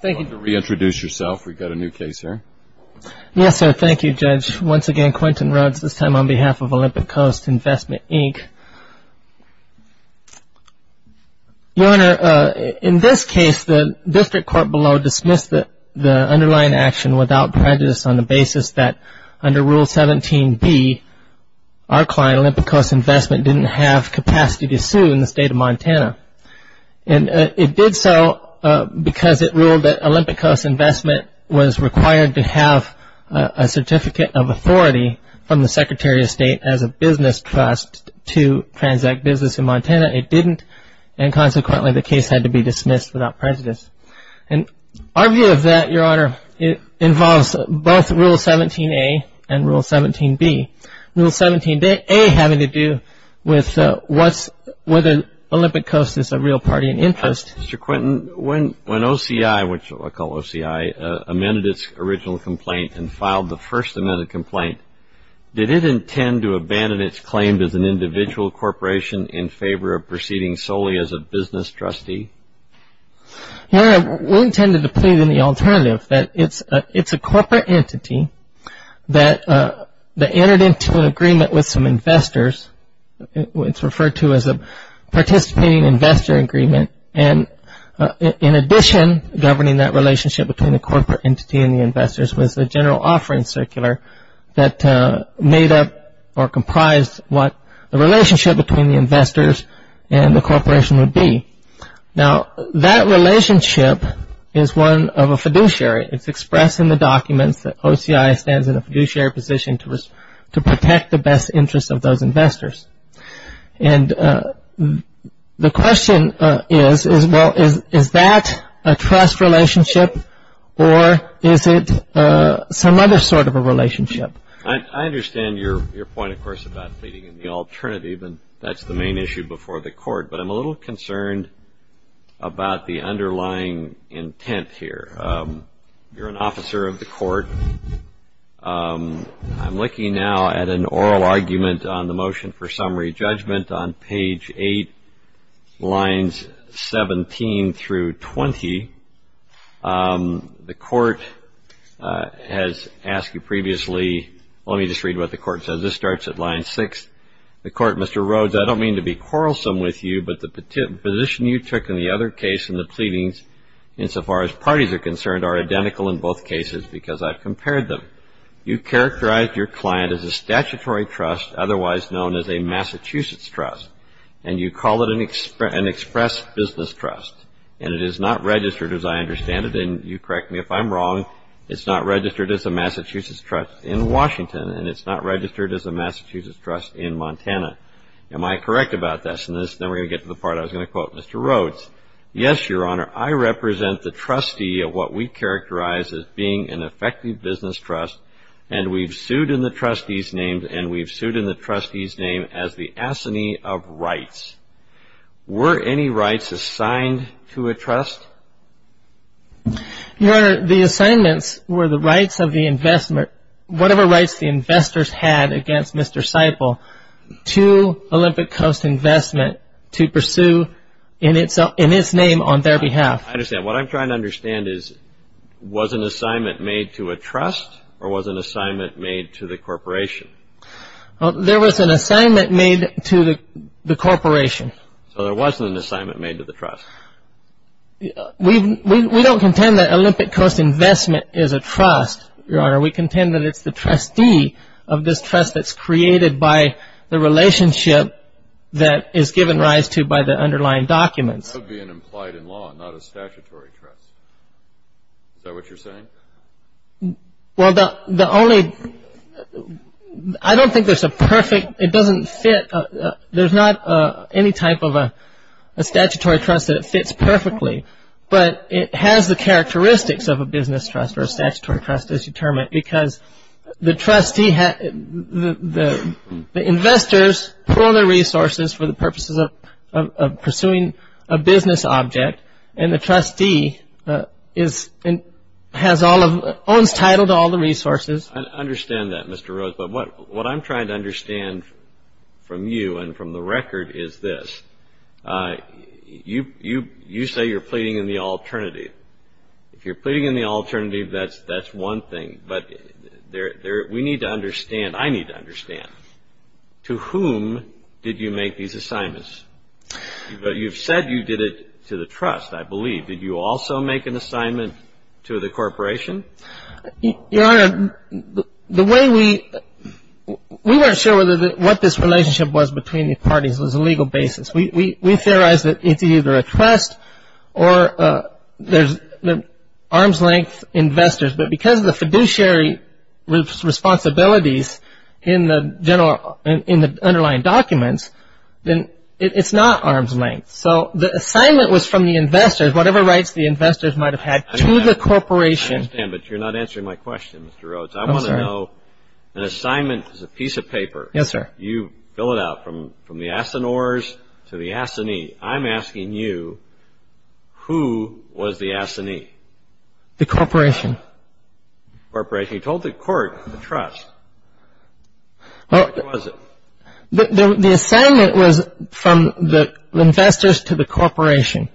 Thank you, Judge. Once again, Quentin Rhoades, this time on behalf of Olympic Coast Investment, Inc. Your Honor, in this case, the district court below dismissed the underlying action without prejudice on the basis that under Rule 17b, our client, Olympic Coast Investment, didn't have capacity to sue in the state of Montana. And it did so because it ruled that Olympic Coast Investment was required to have a certificate of authority from the Secretary of State as a business trust to transact business in Montana. It didn't, and consequently, the case had to be dismissed without prejudice. And our view of that, Your Honor, involves both Rule 17a and Rule 17b. Rule 17a having to do with whether Olympic Coast is a real party in interest. Mr. Quentin, when OCI, which I call OCI, amended its original complaint and filed the first amended complaint, did it intend to abandon its claim as an individual corporation in favor of proceeding solely as a business trustee? Your Honor, we intended to plead in the alternative, that it's a corporate entity that entered into an agreement with some investors. It's referred to as a participating investor agreement, and in addition, governing that relationship between the corporate entity and the investors was a general offering circular that made up or comprised what the relationship between the investors and the corporation would be. Now, that relationship is one of a fiduciary. It's expressed in the documents that OCI stands in a fiduciary position to protect the best interests of those investors. And the question is, well, is that a trust relationship, or is it some other sort of a relationship? I understand your point, of course, about pleading in the alternative, and that's the main issue before the court, but I'm a little concerned about the underlying intent here. You're an officer of the court. I'm looking now at an oral argument on the motion for summary judgment on page 8, lines 17 through 20. The court has asked you previously, let me just read what the court says. This starts at line 6. The court, Mr. Rhodes, I don't mean to be quarrelsome with you, but the position you took in the other case and the pleadings insofar as parties are concerned are identical in both cases because I've compared them. You characterized your client as a statutory trust, otherwise known as a Massachusetts trust, and you call it an express business trust. And it is not registered, as I understand it, and you correct me if I'm wrong, it's not registered as a Massachusetts trust in Washington, and it's not registered as a Massachusetts trust in Montana. Am I correct about this? And then we're going to get to the part I was going to quote Mr. Rhodes. Yes, Your Honor, I represent the trustee of what we characterize as being an effective business trust, and we've sued in the trustee's name, and we've sued in the trustee's name as the assignee of rights. Were any rights assigned to a trust? Your Honor, the assignments were the rights of the investment, whatever rights the investors had against Mr. Seiple, to Olympic Coast Investment to pursue in its name on their behalf. I understand. What I'm trying to understand is was an assignment made to a trust or was an assignment made to the corporation? There was an assignment made to the corporation. So there wasn't an assignment made to the trust? We don't contend that Olympic Coast Investment is a trust, Your Honor. We contend that it's the trustee of this trust that's created by the relationship that is given rise to by the underlying documents. That would be an implied in law, not a statutory trust. Is that what you're saying? Well, the only – I don't think there's a perfect – it doesn't fit – there's not any type of a statutory trust that it fits perfectly, but it has the characteristics of a business trust or a statutory trust as determined because the trustee – the investors pool their resources for the purposes of pursuing a business object, and the trustee owns title to all the resources. I understand that, Mr. Rose. But what I'm trying to understand from you and from the record is this. You say you're pleading in the alternative. If you're pleading in the alternative, that's one thing. But we need to understand – I need to understand. To whom did you make these assignments? But you've said you did it to the trust, I believe. Did you also make an assignment to the corporation? Your Honor, the way we – we weren't sure what this relationship was between the parties. It was a legal basis. We theorize that it's either a trust or there's arm's length investors, but because of the fiduciary responsibilities in the underlying documents, then it's not arm's length. So the assignment was from the investors, whatever rights the investors might have had, to the corporation. I understand, but you're not answering my question, Mr. Rose. I'm sorry. I want to know – an assignment is a piece of paper. Yes, sir. You fill it out. From the Asinors to the Asini, I'm asking you, who was the Asini? The corporation. The corporation. You told the court, the trust. Who was it? The assignment was from the investors to the corporation.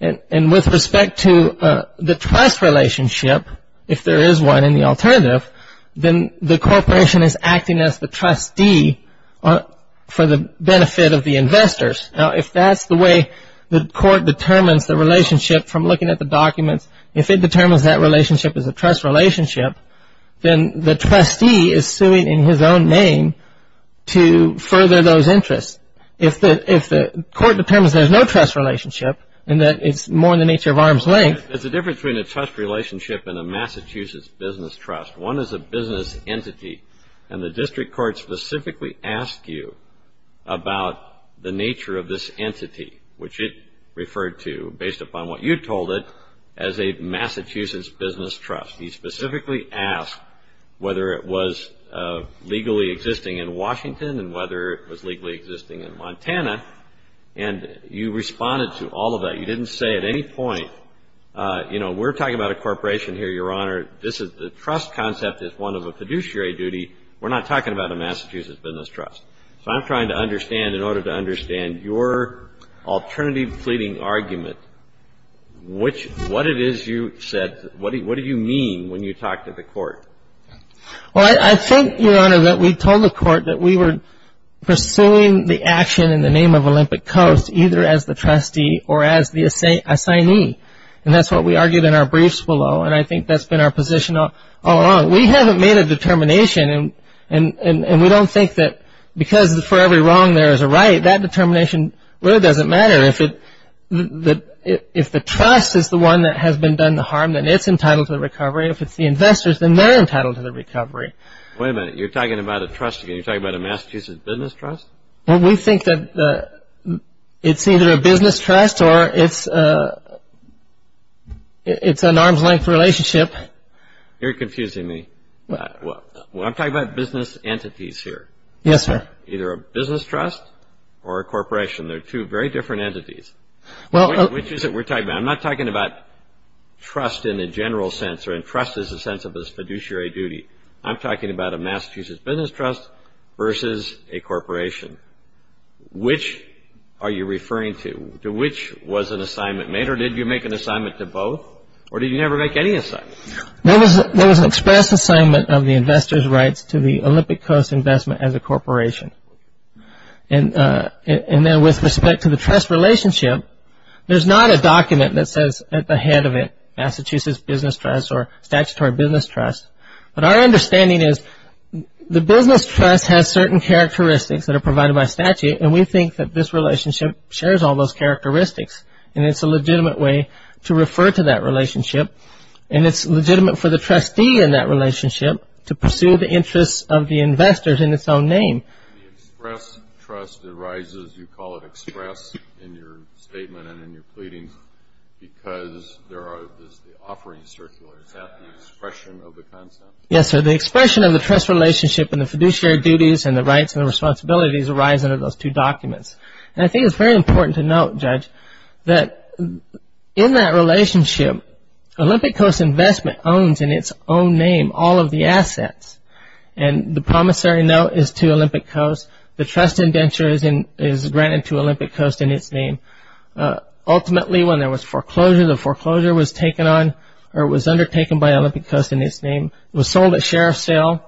And with respect to the trust relationship, if there is one in the alternative, then the corporation is acting as the trustee for the benefit of the investors. Now, if that's the way the court determines the relationship from looking at the documents, if it determines that relationship is a trust relationship, then the trustee is suing in his own name to further those interests. If the court determines there's no trust relationship and that it's more in the nature of arm's length. There's a difference between a trust relationship and a Massachusetts business trust. One is a business entity, and the district court specifically asked you about the nature of this entity, which it referred to, based upon what you told it, as a Massachusetts business trust. He specifically asked whether it was legally existing in Washington and whether it was legally existing in Montana. And you responded to all of that. You didn't say at any point, you know, we're talking about a corporation here, Your Honor. The trust concept is one of a fiduciary duty. We're not talking about a Massachusetts business trust. So I'm trying to understand, in order to understand your alternative pleading argument, what it is you said, what do you mean when you talk to the court? Well, I think, Your Honor, that we told the court that we were pursuing the action in the name of Olympic Coast either as the trustee or as the assignee. And that's what we argued in our briefs below, and I think that's been our position all along. We haven't made a determination, and we don't think that because for every wrong there is a right, that determination really doesn't matter. If the trust is the one that has been done the harm, then it's entitled to the recovery. If it's the investors, then they're entitled to the recovery. Wait a minute. You're talking about a trust again. You're talking about a Massachusetts business trust? Well, we think that it's either a business trust or it's an arm's-length relationship. You're confusing me. I'm talking about business entities here. Yes, sir. Either a business trust or a corporation. They're two very different entities. Which is it we're talking about? I'm not talking about trust in a general sense, or in trust as a sense of a fiduciary duty. I'm talking about a Massachusetts business trust versus a corporation. Which are you referring to? Which was an assignment made, or did you make an assignment to both, or did you never make any assignment? There was an express assignment of the investor's rights to the Olympic Coast Investment as a corporation. And then with respect to the trust relationship, there's not a document that says at the head of it Massachusetts business trust or statutory business trust. But our understanding is the business trust has certain characteristics that are provided by statute, and we think that this relationship shares all those characteristics, and it's a legitimate way to refer to that relationship. And it's legitimate for the trustee in that relationship to pursue the interests of the investors in its own name. The express trust arises, you call it express in your statement and in your pleadings, because there is the offering circular. Is that the expression of the concept? Yes, sir. The expression of the trust relationship and the fiduciary duties and the rights and the responsibilities arise under those two documents. And I think it's very important to note, Judge, that in that relationship, Olympic Coast Investment owns in its own name all of the assets. And the promissory note is to Olympic Coast. The trust indenture is granted to Olympic Coast in its name. Ultimately, when there was foreclosure, the foreclosure was undertaken by Olympic Coast in its name. It was sold at sheriff's sale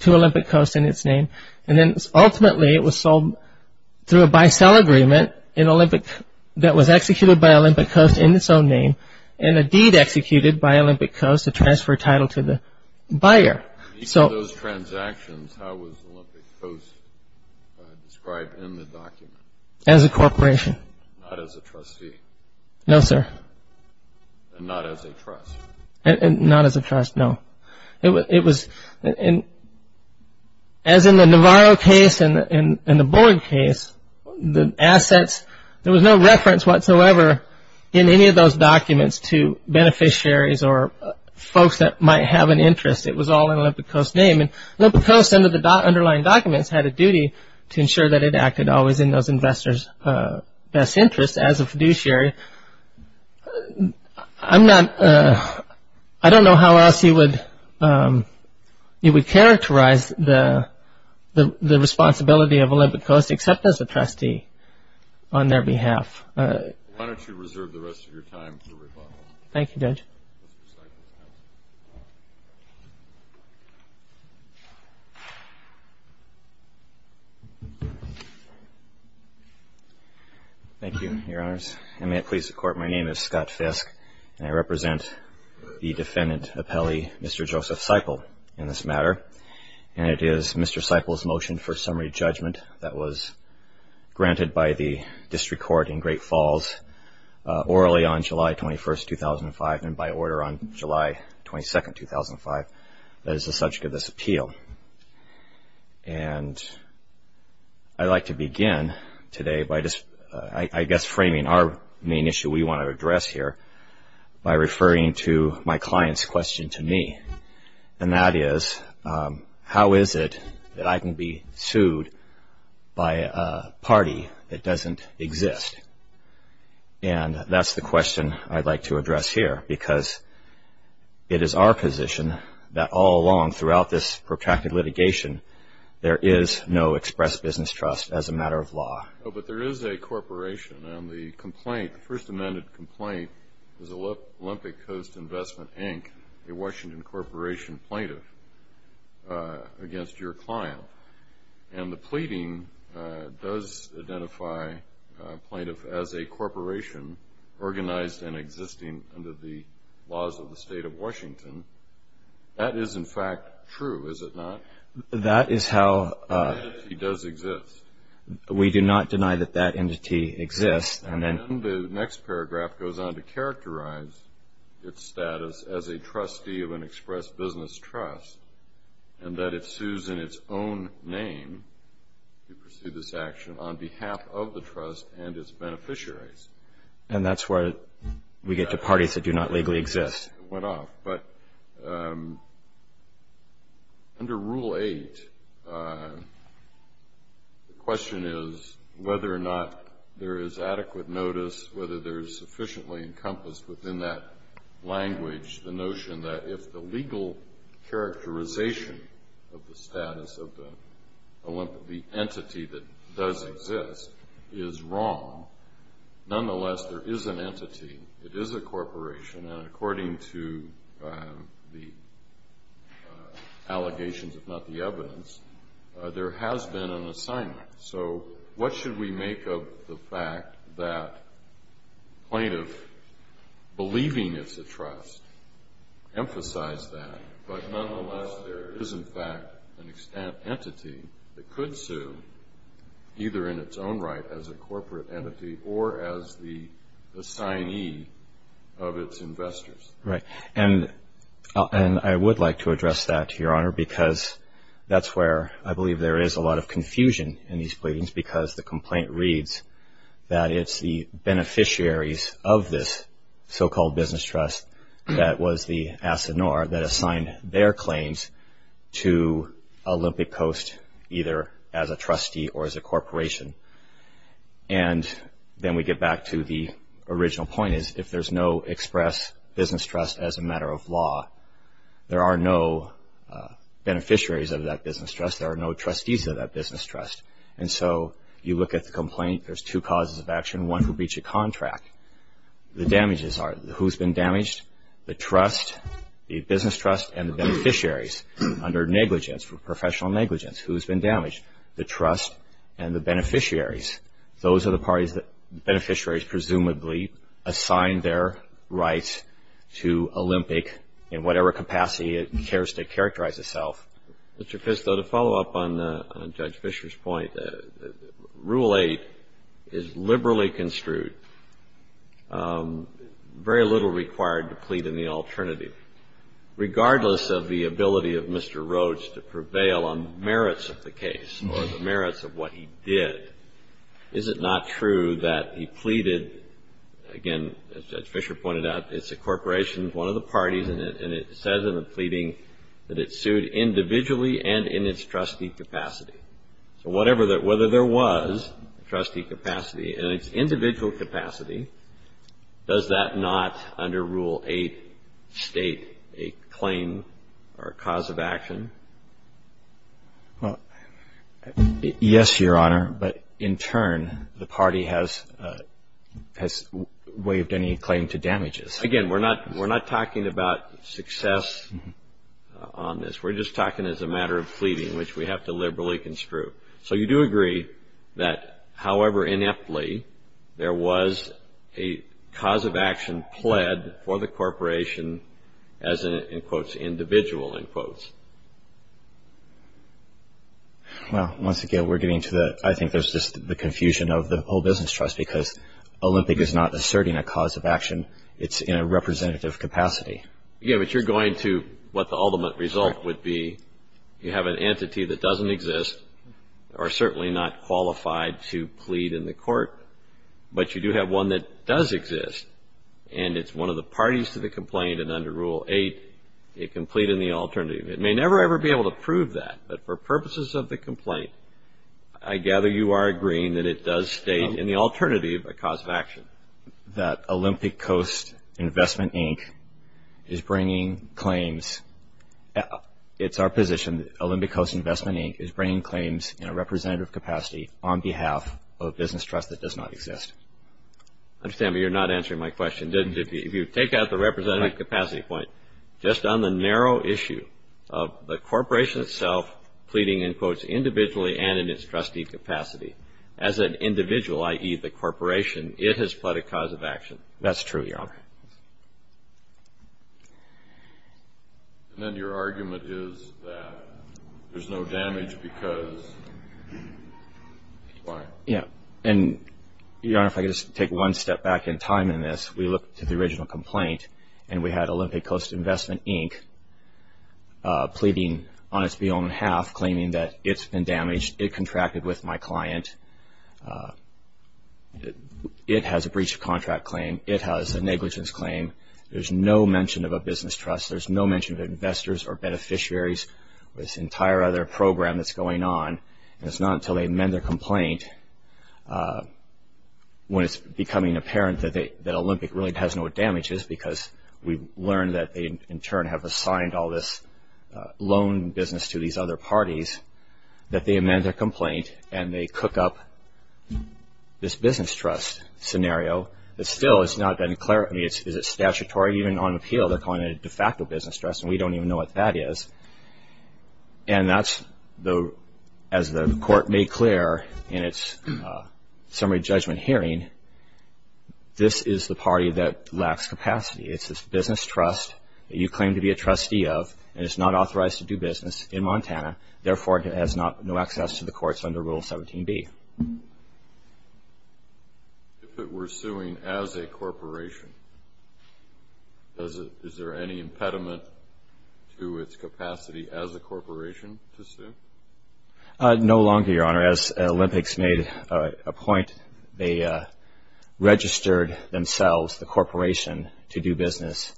to Olympic Coast in its name. And then, ultimately, it was sold through a buy-sell agreement that was executed by Olympic Coast in its own name and, indeed, executed by Olympic Coast to transfer title to the buyer. In each of those transactions, how was Olympic Coast described in the document? As a corporation. Not as a trustee. No, sir. And not as a trust. And not as a trust, no. It was, as in the Navarro case and the Borg case, the assets, there was no reference whatsoever in any of those documents to beneficiaries or folks that might have an interest. It was all in Olympic Coast's name. And Olympic Coast, under the underlying documents, had a duty to ensure that it acted always in those investors' best interest as a fiduciary. I don't know how else you would characterize the responsibility of Olympic Coast, except as a trustee, on their behalf. Why don't you reserve the rest of your time for rebuttal? Thank you, Judge. Thank you, Your Honors. And may it please the Court, my name is Scott Fiske, and I represent the defendant appellee, Mr. Joseph Seiple, in this matter. And it is Mr. Seiple's motion for summary judgment that was granted by the district court in Great Falls orally on July 21, 2005, and by order on July 22, 2005, that is the subject of this appeal. And I'd like to begin today by just, I guess, framing our main issue we want to address here by referring to my client's question to me. And that is, how is it that I can be sued by a party that doesn't exist? And that's the question I'd like to address here, because it is our position that all along, throughout this protracted litigation, there is no express business trust as a matter of law. But there is a corporation, and the complaint, the first amended complaint, is Olympic Coast Investment, Inc., a Washington Corporation plaintiff, against your client. And the pleading does identify a plaintiff as a corporation organized and existing under the laws of the state of Washington. That is, in fact, true, is it not? That is how the entity does exist. We do not deny that that entity exists. And then the next paragraph goes on to characterize its status as a trustee of an express business trust and that it sues in its own name to pursue this action on behalf of the trust and its beneficiaries. And that's where we get to parties that do not legally exist. But under Rule 8, the question is whether or not there is adequate notice, whether there is sufficiently encompassed within that language, the notion that if the legal characterization of the status of the entity that does exist is wrong, nonetheless there is an entity, it is a corporation, and according to the allegations, if not the evidence, there has been an assignment. So what should we make of the fact that plaintiff believing it's a trust emphasized that, but nonetheless there is, in fact, an entity that could sue, either in its own right as a corporate entity or as the assignee of its investors? Right. Or because that's where I believe there is a lot of confusion in these pleadings because the complaint reads that it's the beneficiaries of this so-called business trust that was the assignor that assigned their claims to Olympic Coast, either as a trustee or as a corporation. And then we get back to the original point is if there's no express business trust as a matter of law, there are no beneficiaries of that business trust. There are no trustees of that business trust. And so you look at the complaint, there's two causes of action. One, to breach a contract. The damages are who's been damaged? The trust, the business trust, and the beneficiaries under negligence, professional negligence. Who's been damaged? The trust and the beneficiaries. Those are the parties that beneficiaries presumably assign their rights to Olympic in whatever capacity it cares to characterize itself. Mr. Fisto, to follow up on Judge Fisher's point, Rule 8 is liberally construed. Very little required to plead in the alternative. Regardless of the ability of Mr. Rhodes to prevail on merits of the case or the merits of what he did, is it not true that he pleaded, again, as Judge Fisher pointed out, it's a corporation, one of the parties, and it says in the pleading that it sued individually and in its trustee capacity. So whether there was trustee capacity in its individual capacity, does that not under Rule 8 state a claim or a cause of action? Well, yes, Your Honor, but in turn, the party has waived any claim to damages. Again, we're not talking about success on this. We're just talking as a matter of pleading, which we have to liberally construe. So you do agree that, however ineptly, there was a cause of action pled for the corporation as an, in quotes, individual, in quotes. Well, once again, we're getting to the, I think there's just the confusion of the whole business trust because Olympic is not asserting a cause of action. It's in a representative capacity. Yeah, but you're going to what the ultimate result would be. You have an entity that doesn't exist or certainly not qualified to plead in the court, but you do have one that does exist, and it's one of the parties to the complaint, and under Rule 8, it can plead in the alternative. It may never, ever be able to prove that, but for purposes of the complaint, I gather you are agreeing that it does state in the alternative a cause of action. Olympic Coast Investment Inc. is bringing claims. It's our position that Olympic Coast Investment Inc. is bringing claims in a representative capacity on behalf of a business trust that does not exist. I understand, but you're not answering my question, did you? If you take out the representative capacity point, just on the narrow issue of the corporation itself pleading, in quotes, individually and in its trustee capacity, as an individual, i.e., the corporation, it has pled a cause of action. That's true, Your Honor. And then your argument is that there's no damage because why? Yeah, and Your Honor, if I could just take one step back in time in this, we look to the original complaint, and we had Olympic Coast Investment Inc. pleading on its own behalf, claiming that it's been damaged, it contracted with my client. It has a breach of contract claim. It has a negligence claim. There's no mention of a business trust. There's no mention of investors or beneficiaries or this entire other program that's going on. And it's not until they amend their complaint, when it's becoming apparent that Olympic really has no damages, because we've learned that they, in turn, have assigned all this loan business to these other parties, that they amend their complaint and they cook up this business trust scenario that still has not been clarified. I mean, is it statutory even on appeal? They're calling it a de facto business trust, and we don't even know what that is. And that's, as the Court made clear in its summary judgment hearing, this is the party that lacks capacity. It's this business trust that you claim to be a trustee of, and it's not authorized to do business in Montana. Therefore, it has no access to the courts under Rule 17b. If it were suing as a corporation, is there any impediment to its capacity as a corporation to sue? No longer, Your Honor. As Olympics made a point, they registered themselves, the corporation, to do business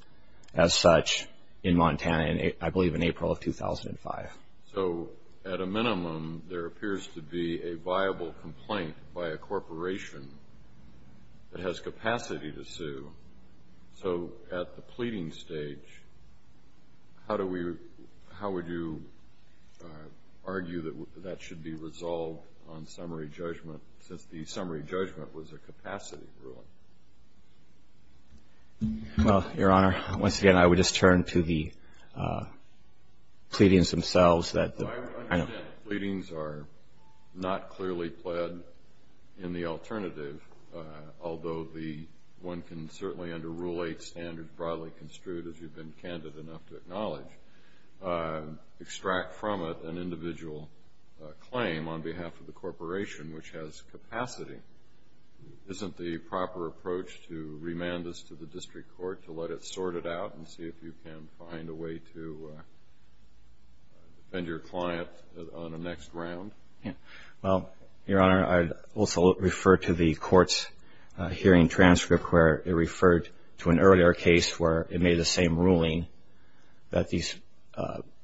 as such in Montana, I believe in April of 2005. So at a minimum, there appears to be a viable complaint by a corporation that has capacity to sue. So at the pleading stage, how would you argue that that should be resolved on summary judgment, since the summary judgment was a capacity ruling? Well, Your Honor, once again, I would just turn to the pleadings themselves. I understand the pleadings are not clearly pled in the alternative, although one can certainly under Rule 8 standards broadly construed, as you've been candid enough to acknowledge, extract from it an individual claim on behalf of the corporation, which has capacity. Isn't the proper approach to remand this to the district court to let it sort it out and see if you can find a way to defend your client on the next round? Well, Your Honor, I would also refer to the court's hearing transcript, where it referred to an earlier case where it made the same ruling that the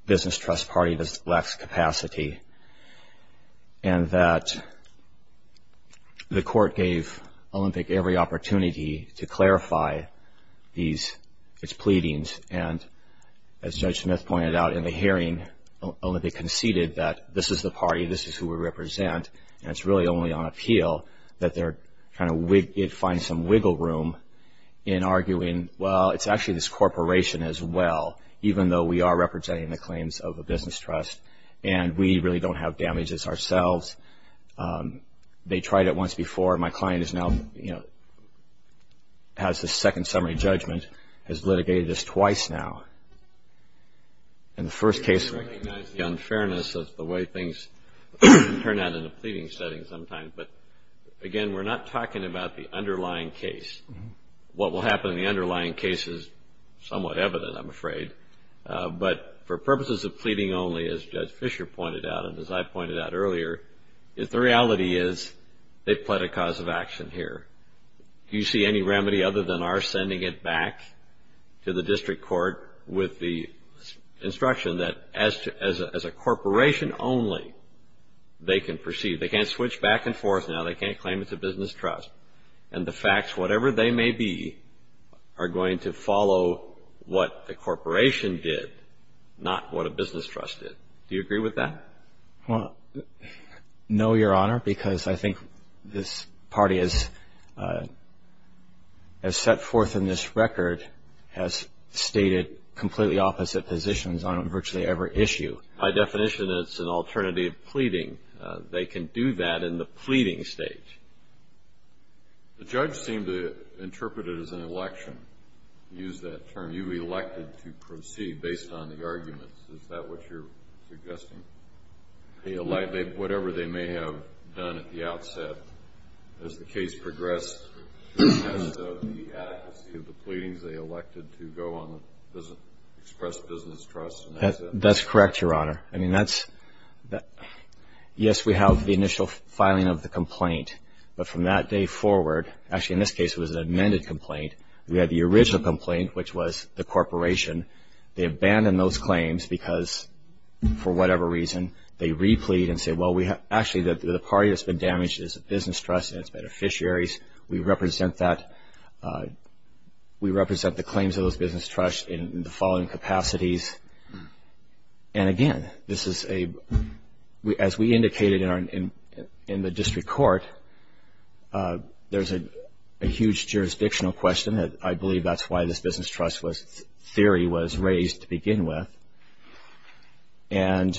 business trust party lacks capacity, and that the court gave Olympic every opportunity to clarify its pleadings. And as Judge Smith pointed out in the hearing, Olympic conceded that this is the party, this is who we represent, and it's really only on appeal that it finds some wiggle room in arguing, well, it's actually this corporation as well, even though we are representing the claims of a business trust. And we really don't have damages ourselves. They tried it once before. My client is now, you know, has the second summary judgment, has litigated this twice now. In the first case we recognize the unfairness of the way things turn out in a pleading setting sometimes. But, again, we're not talking about the underlying case. What will happen in the underlying case is somewhat evident, I'm afraid. But for purposes of pleading only, as Judge Fischer pointed out and as I pointed out earlier, is the reality is they've pled a cause of action here. Do you see any remedy other than our sending it back to the district court with the instruction that as a corporation only, they can proceed. They can't switch back and forth now. They can't claim it's a business trust. And the facts, whatever they may be, are going to follow what the corporation did, not what a business trust did. Do you agree with that? No, Your Honor, because I think this party has set forth in this record, has stated completely opposite positions on virtually every issue. By definition, it's an alternative pleading. They can do that in the pleading stage. The judge seemed to interpret it as an election, use that term. You elected to proceed based on the arguments. Is that what you're suggesting? Whatever they may have done at the outset as the case progressed in terms of the adequacy of the pleadings, they elected to go on and express business trust. That's correct, Your Honor. I mean, yes, we have the initial filing of the complaint. But from that day forward, actually in this case it was an amended complaint. We had the original complaint, which was the corporation. They abandoned those claims because, for whatever reason, they replied and said, well, actually the party that's been damaged is a business trust and its beneficiaries. We represent that. We represent the claims of those business trusts in the following capacities. And, again, this is a, as we indicated in the district court, there's a huge jurisdictional question. I believe that's why this business trust theory was raised to begin with. And,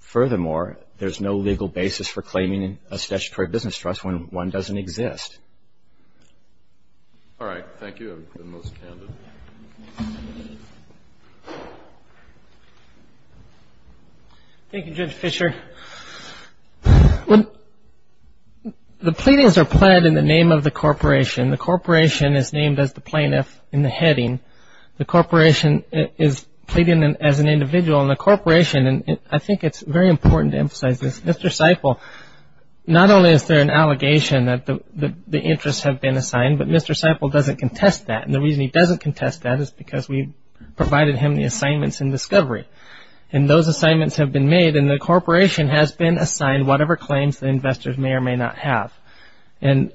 furthermore, there's no legal basis for claiming a statutory business trust when one doesn't exist. All right. Thank you. I've been most candid. Thank you, Judge Fischer. The pleadings are pled in the name of the corporation. The corporation is named as the plaintiff in the heading. The corporation is pleading as an individual. And the corporation, and I think it's very important to emphasize this, Mr. Seiple, not only is there an allegation that the interests have been assigned, but Mr. Seiple doesn't contest that. And the reason he doesn't contest that is because we provided him the assignments in discovery. And those assignments have been made, and the corporation has been assigned whatever claims the investors may or may not have. And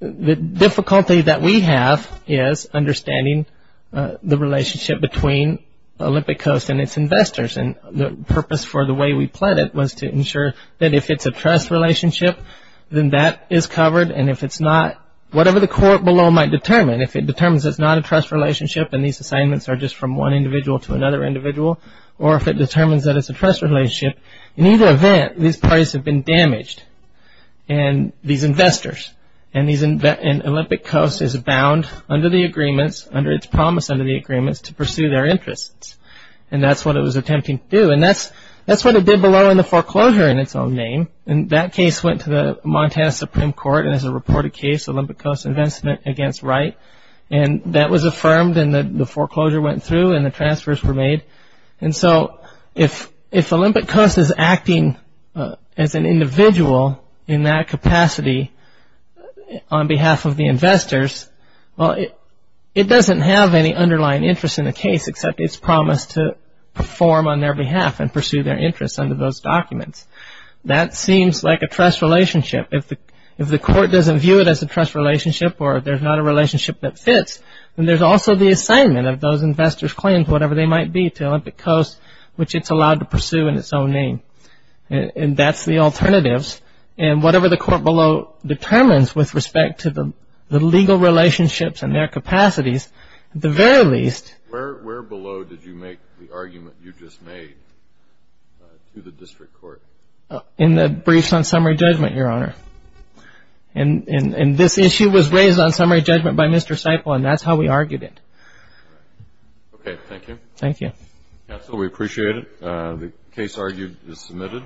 the difficulty that we have is understanding the relationship between Olympic Coast and its investors. And the purpose for the way we pled it was to ensure that if it's a trust relationship, then that is covered. And if it's not, whatever the court below might determine, if it determines it's not a trust relationship and these assignments are just from one individual to another individual, or if it determines that it's a trust relationship, in either event, these parties have been damaged, and these investors, and Olympic Coast is bound under the agreements, under its promise under the agreements, to pursue their interests. And that's what it was attempting to do. And that's what it did below in the foreclosure in its own name. And that case went to the Montana Supreme Court, and as a reported case, Olympic Coast investment against Wright. And that was affirmed, and the foreclosure went through, and the transfers were made. And so if Olympic Coast is acting as an individual in that capacity on behalf of the investors, well, it doesn't have any underlying interest in the case, except it's promised to perform on their behalf and pursue their interests under those documents. That seems like a trust relationship. If the court doesn't view it as a trust relationship or there's not a relationship that fits, then there's also the assignment of those investors' claims, whatever they might be, to Olympic Coast, which it's allowed to pursue in its own name. And that's the alternatives. And whatever the court below determines with respect to the legal relationships and their capacities, at the very least. Where below did you make the argument you just made to the district court? In the briefs on summary judgment, Your Honor. And this issue was raised on summary judgment by Mr. Stiple, and that's how we argued it. Okay. Thank you. Thank you. Counsel, we appreciate it. The case argued is submitted.